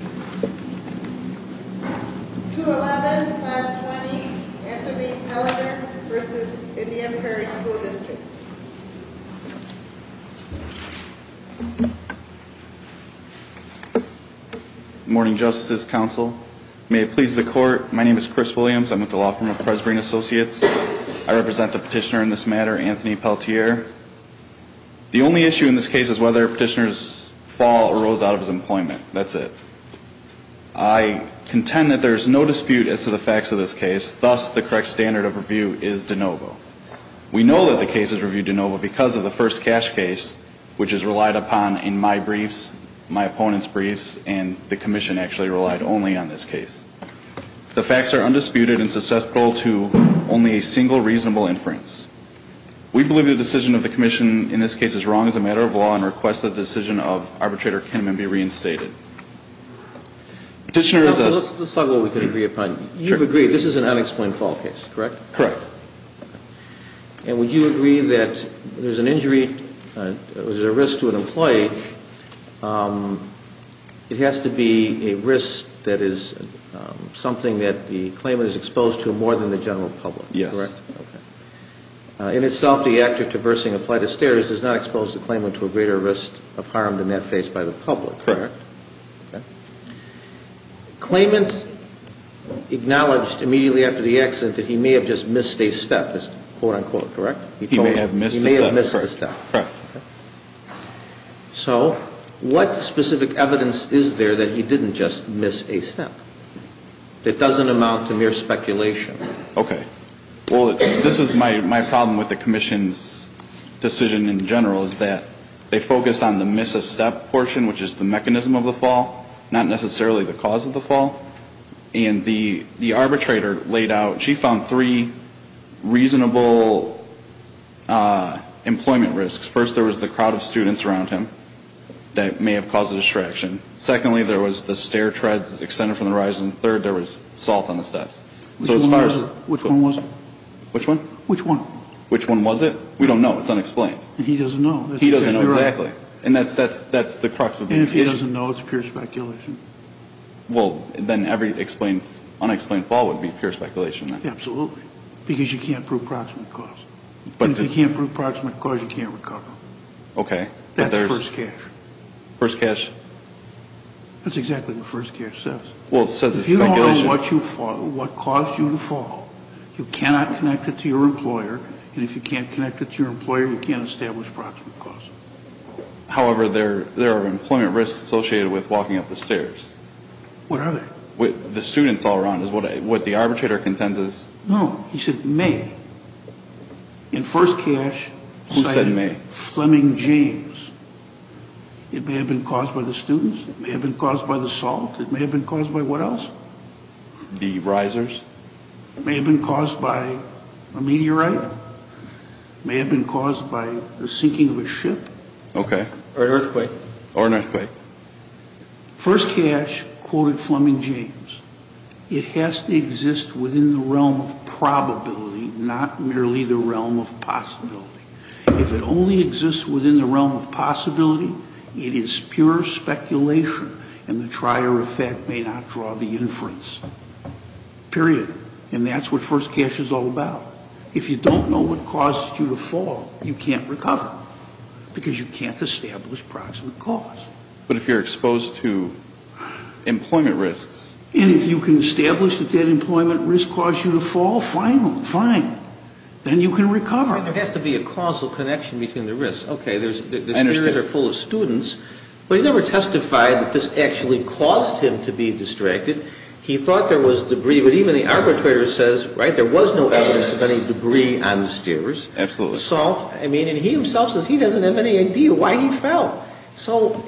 2-11, 5-20, Anthony Pelletier v. Indian Prairie School District Good morning, Justice's Council. May it please the Court, my name is Chris Williams. I'm with the Law Firm of Perez-Green Associates. I represent the petitioner in this matter, Anthony Pelletier. The only issue in this case is whether a petitioner's fall arose out of his employment. That's it. I contend that there is no dispute as to the facts of this case, thus the correct standard of review is de novo. We know that the case is reviewed de novo because of the first cash case, which is relied upon in my briefs, my opponent's briefs, and the Commission actually relied only on this case. The facts are undisputed and susceptible to only a single reasonable inference. We believe the decision of the Commission in this case is wrong as a matter of law and request that the decision of arbitrator Kinneman be reinstated. Let's talk about what we can agree upon. You've agreed this is an unexplained fall case, correct? Correct. And would you agree that there's an injury, there's a risk to an employee, it has to be a risk that is something that the claimant is exposed to more than the general public, correct? Correct. In itself, the actor traversing a flight of stairs does not expose the claimant to a greater risk of harm than that faced by the public, correct? Correct. Claimant acknowledged immediately after the accident that he may have just missed a step, this quote-unquote, correct? He may have missed a step. He may have missed a step. Correct. So what specific evidence is there that he didn't just miss a step? It doesn't amount to mere speculation. Okay. Well, this is my problem with the Commission's decision in general is that they focus on the miss a step portion, which is the mechanism of the fall, not necessarily the cause of the fall. And the arbitrator laid out, she found three reasonable employment risks. First, there was the crowd of students around him that may have caused the distraction. Secondly, there was the stair treads extended from the horizon. Third, there was salt on the steps. Which one was it? Which one? Which one? Which one was it? We don't know. It's unexplained. And he doesn't know. He doesn't know, exactly. And that's the crux of the issue. He doesn't know. It's pure speculation. Well, then every unexplained fall would be pure speculation, then. Absolutely. Because you can't prove proximate cause. And if you can't prove proximate cause, you can't recover. Okay. But there's... That's First Cash. First Cash? That's exactly what First Cash says. Well, it says it's speculation. If you don't know what caused you to fall, you cannot connect it to your employer. And if you can't connect it to your employer, you can't establish proximate cause. However, there are employment risks associated with walking up the stairs. What are they? The students all around is what the arbitrator contends is. No. He said may. In First Cash... Who said may? Fleming James. It may have been caused by the students. It may have been caused by the salt. It may have been caused by what else? The risers. It may have been caused by a meteorite. It may have been caused by the sinking of a ship. Okay. Or an earthquake. Or an earthquake. First Cash quoted Fleming James. It has to exist within the realm of probability, not merely the realm of possibility. If it only exists within the realm of possibility, it is pure speculation. And the trier of fact may not draw the inference. Period. And that's what First Cash is all about. If you don't know what caused you to fall, you can't recover. Because you can't establish proximate cause. But if you're exposed to employment risks... And if you can establish that that employment risk caused you to fall, fine. Then you can recover. There has to be a causal connection between the risks. Okay, the stairs are full of students. But he never testified that this actually caused him to be distracted. He thought there was debris. But even the arbitrator says, right, there was no evidence of any debris on the stairs. Absolutely. Salt. I mean, and he himself says he doesn't have any idea why he fell. So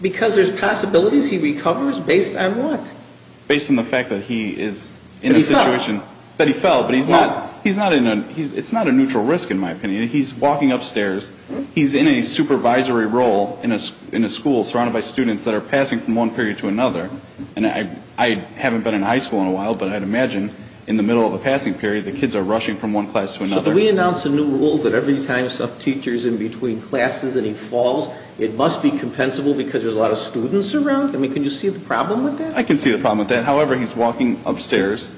because there's possibilities, he recovers based on what? Based on the fact that he is in a situation... That he fell. It's not a neutral risk in my opinion. He's walking upstairs. He's in a supervisory role in a school surrounded by students that are passing from one period to another. And I haven't been in high school in a while, but I'd imagine in the middle of a passing period, the kids are rushing from one class to another. So can we announce a new rule that every time a teacher is in between classes and he falls, it must be compensable because there's a lot of students around? I mean, can you see the problem with that? I can see the problem with that. However, he's walking upstairs.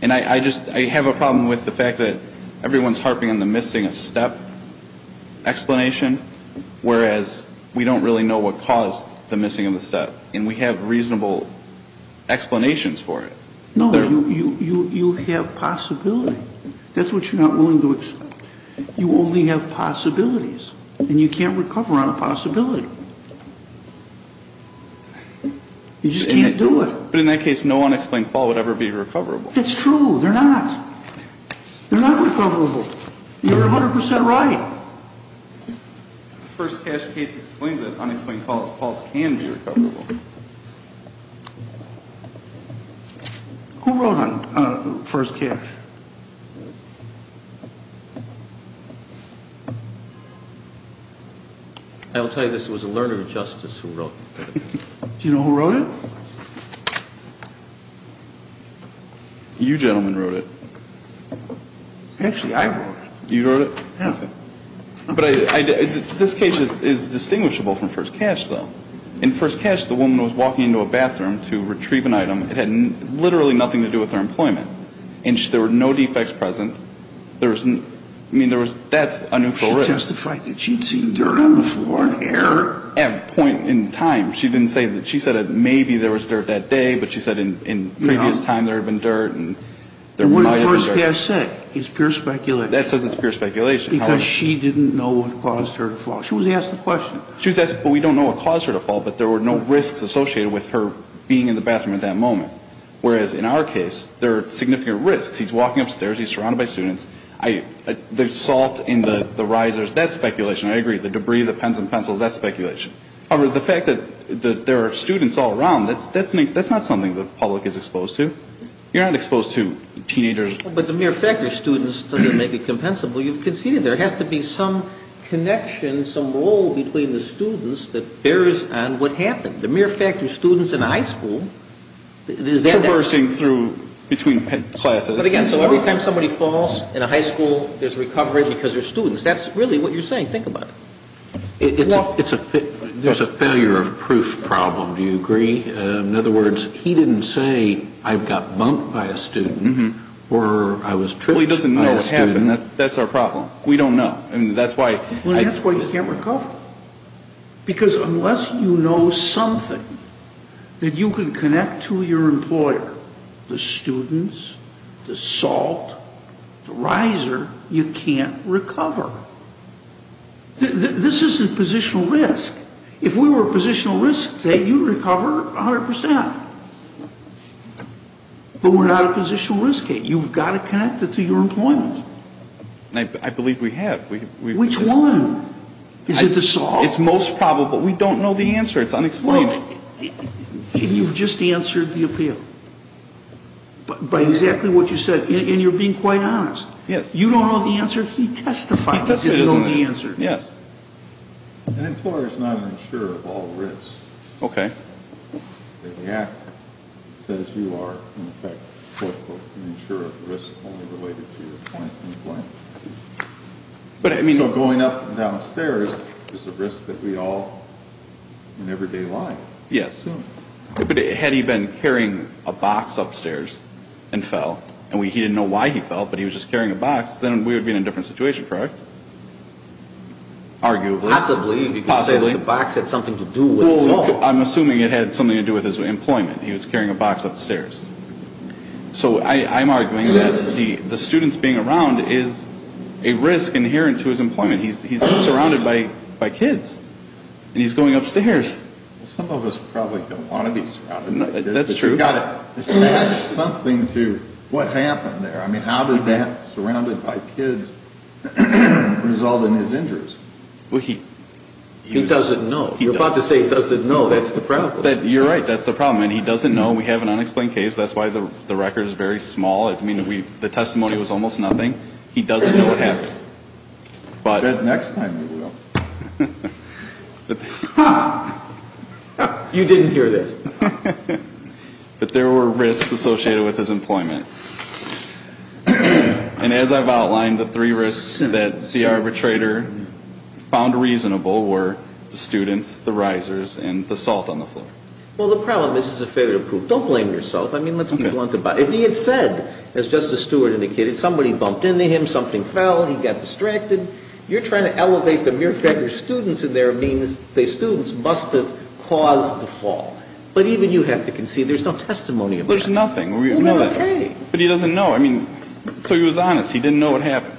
And I just have a problem with the fact that everyone's harping on the missing a step explanation, whereas we don't really know what caused the missing of the step. And we have reasonable explanations for it. No, you have possibility. That's what you're not willing to accept. You only have possibilities. And you can't recover on a possibility. You just can't do it. But in that case, no unexplained fall would ever be recoverable. That's true. They're not. They're not recoverable. You're 100% right. Who wrote First Cash? I'll tell you this. It was a learner of justice who wrote it. Do you know who wrote it? You gentlemen wrote it. Actually, I wrote it. You wrote it? Yeah. Okay. But this case is distinguishable from First Cash, though. In First Cash, the woman was walking into a bathroom to retrieve an item. It had literally nothing to do with her employment. And there were no defects present. I mean, that's a neutral risk. She testified that she'd seen dirt on the floor and air. At a point in time, she didn't say that. She said that maybe there was dirt that day. But she said in previous time there had been dirt. And there might have been dirt. What did First Cash say? It's pure speculation. That says it's pure speculation. Because she didn't know what caused her to fall. She was asked the question. She was asked, but we don't know what caused her to fall. But there were no risks associated with her being in the bathroom at that moment. Whereas, in our case, there are significant risks. He's walking upstairs. He's surrounded by students. There's salt in the risers. That's speculation. I agree. The debris, the pens and pencils, that's speculation. However, the fact that there are students all around, that's not something the public is exposed to. You're not exposed to teenagers. But the mere fact of students doesn't make it compensable. You've conceded there has to be some connection, some role between the students that bears on what happened. The mere fact of students in a high school, is that that? Traversing through between classes. But, again, so every time somebody falls in a high school, there's a recovery because they're students. That's really what you're saying. I can't think about it. There's a failure of proof problem. Do you agree? In other words, he didn't say I got bumped by a student or I was tripped by a student. Well, he doesn't know what happened. That's our problem. We don't know. That's why you can't recover. Because unless you know something that you can connect to your employer, the students, the SALT, the RISER, you can't recover. This is a positional risk. If we were a positional risk, you'd recover 100%. But we're not a positional risk. You've got to connect it to your employment. I believe we have. Which one? Is it the SALT? It's most probable. We don't know the answer. It's unexplained. You've just answered the appeal by exactly what you said. And you're being quite honest. Yes. You don't know the answer. He testified that he doesn't know the answer. Yes. An employer is not an insurer of all risks. Okay. The Act says you are, in effect, quote, unquote, an insurer of risks only related to your employment. So going up and down stairs is a risk that we all, in everyday life, assume. Yes. But had he been carrying a box upstairs and fell, and he didn't know why he fell, but he was just carrying a box, then we would be in a different situation, correct? Arguably. Possibly. Possibly. Because the box had something to do with his fall. Well, I'm assuming it had something to do with his employment. He was carrying a box upstairs. So I'm arguing that the student's being around is a risk inherent to his employment. He's surrounded by kids, and he's going upstairs. Well, some of us probably don't want to be surrounded. That's true. But you've got to attach something to what happened there. I mean, how did that surrounded by kids result in his injuries? Well, he doesn't know. You're about to say he doesn't know. That's the problem. You're right. That's the problem. I mean, he doesn't know. We have an unexplained case. That's why the record is very small. I mean, the testimony was almost nothing. He doesn't know what happened. Next time you will. Ha! You didn't hear that. But there were risks associated with his employment. And as I've outlined, the three risks that the arbitrator found reasonable were the students, the risers, and the salt on the floor. Well, the problem is it's a failure to prove. Don't blame yourself. I mean, let's be blunt about it. If he had said, as Justice Stewart indicated, somebody bumped into him, something fell, he got distracted, you're trying to elevate the mere fact there are students in there means the students must have caused the fall. But even you have to concede there's no testimony of that. There's nothing. Well, we have a case. But he doesn't know. I mean, so he was honest. He didn't know what happened.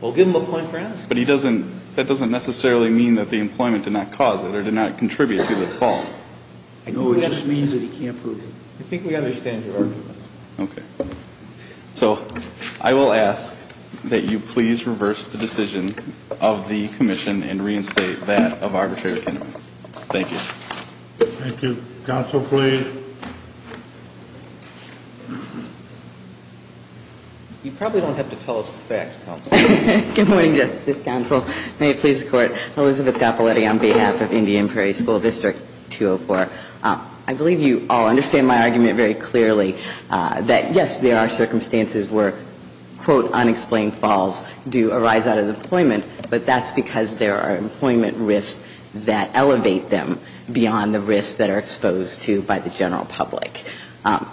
Well, give him a point for asking. But that doesn't necessarily mean that the employment did not cause it or did not contribute to the fall. No, it just means that he can't prove it. I think we understand your argument. Okay. So I will ask that you please reverse the decision of the commission and reinstate that of arbitrary accountability. Thank you. Thank you. Counsel, please. You probably don't have to tell us the facts, Counsel. Good morning, Justice Counsel. May it please the Court. Elizabeth Capoletti on behalf of Indian Prairie School District 204. I believe you all understand my argument very clearly that, yes, there are circumstances where, quote, unexplained falls do arise out of employment, but that's because there are employment risks that elevate them beyond the risks that are exposed to by the general public.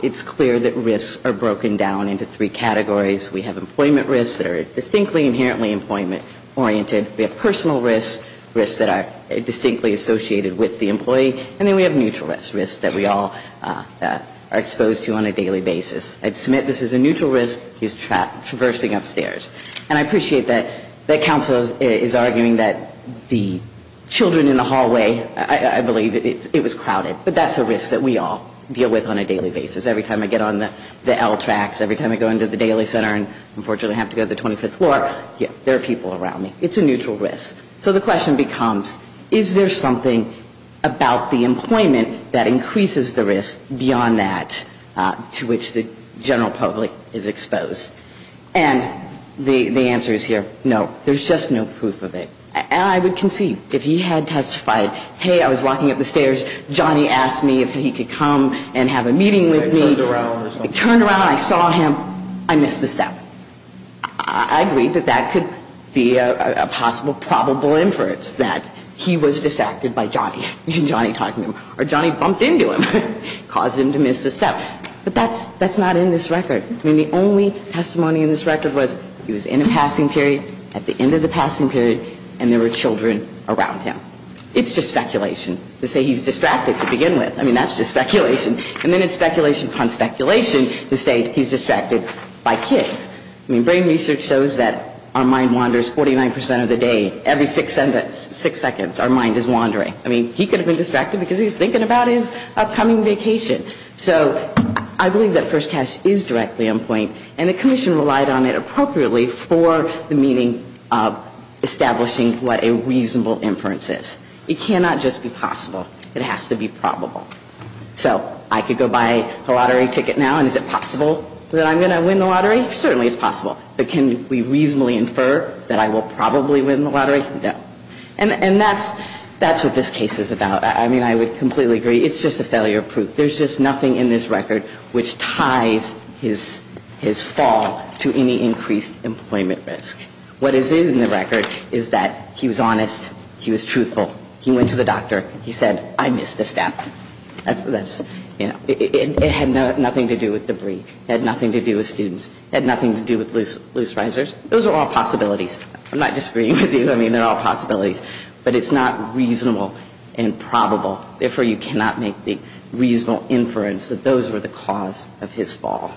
It's clear that risks are broken down into three categories. We have employment risks that are distinctly inherently employment-oriented. We have personal risks, risks that are distinctly associated with the employee. And then we have neutral risks, risks that we all are exposed to on a daily basis. I'd submit this is a neutral risk, he's traversing upstairs. And I appreciate that Counsel is arguing that the children in the hallway, I believe it was crowded, but that's a risk that we all deal with on a daily basis. Every time I get on the L tracks, every time I go into the Daily Center and unfortunately have to go to the 25th floor, there are people around me. It's a neutral risk. So the question becomes, is there something about the employment that increases the risk beyond that to which the general public is exposed? And the answer is here, no. There's just no proof of it. And I would concede, if he had testified, hey, I was walking up the stairs, Johnny asked me if he could come and have a meeting with me. I turned around and I saw him. I missed a step. I agree that that could be a possible probable inference that he was distracted by Johnny, Johnny talking to him. Or Johnny bumped into him, caused him to miss a step. But that's not in this record. I mean, the only testimony in this record was he was in a passing period, at the end of the passing period, and there were children around him. It's just speculation to say he's distracted to begin with. I mean, that's just speculation. And then it's speculation upon speculation to say he's distracted by kids. I mean, brain research shows that our mind wanders 49 percent of the day. Every six seconds, our mind is wandering. I mean, he could have been distracted because he was thinking about his upcoming vacation. So I believe that First Cash is directly on point. And the commission relied on it appropriately for the meaning of establishing what a reasonable inference is. It cannot just be possible. It has to be probable. So I could go buy a lottery ticket now, and is it possible that I'm going to win the lottery? Certainly it's possible. But can we reasonably infer that I will probably win the lottery? No. And that's what this case is about. I mean, I would completely agree. It's just a failure proof. There's just nothing in this record which ties his fall to any increased employment risk. What is in the record is that he was honest. He was truthful. He went to the doctor. He said, I missed a step. It had nothing to do with debris. It had nothing to do with students. It had nothing to do with loose risers. Those are all possibilities. I'm not disagreeing with you. I mean, they're all possibilities. But it's not reasonable and probable. Therefore, you cannot make the reasonable inference that those were the cause of his fall.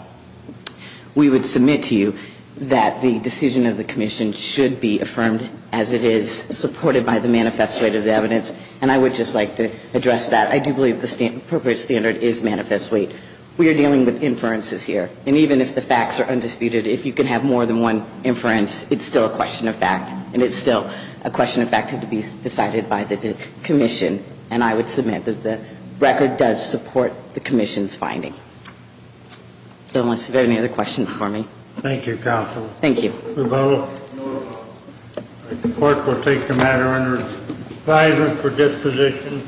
We would submit to you that the decision of the commission should be affirmed as it is, supported by the manifest weight of the evidence. And I would just like to address that. I do believe the appropriate standard is manifest weight. We are dealing with inferences here. And even if the facts are undisputed, if you can have more than one inference, it's still a question of fact. And it's still a question of fact to be decided by the commission. And I would submit that the record does support the commission's finding. So unless you have any other questions for me. Thank you, Counsel. Thank you. The court will take the matter under advisement for disposition.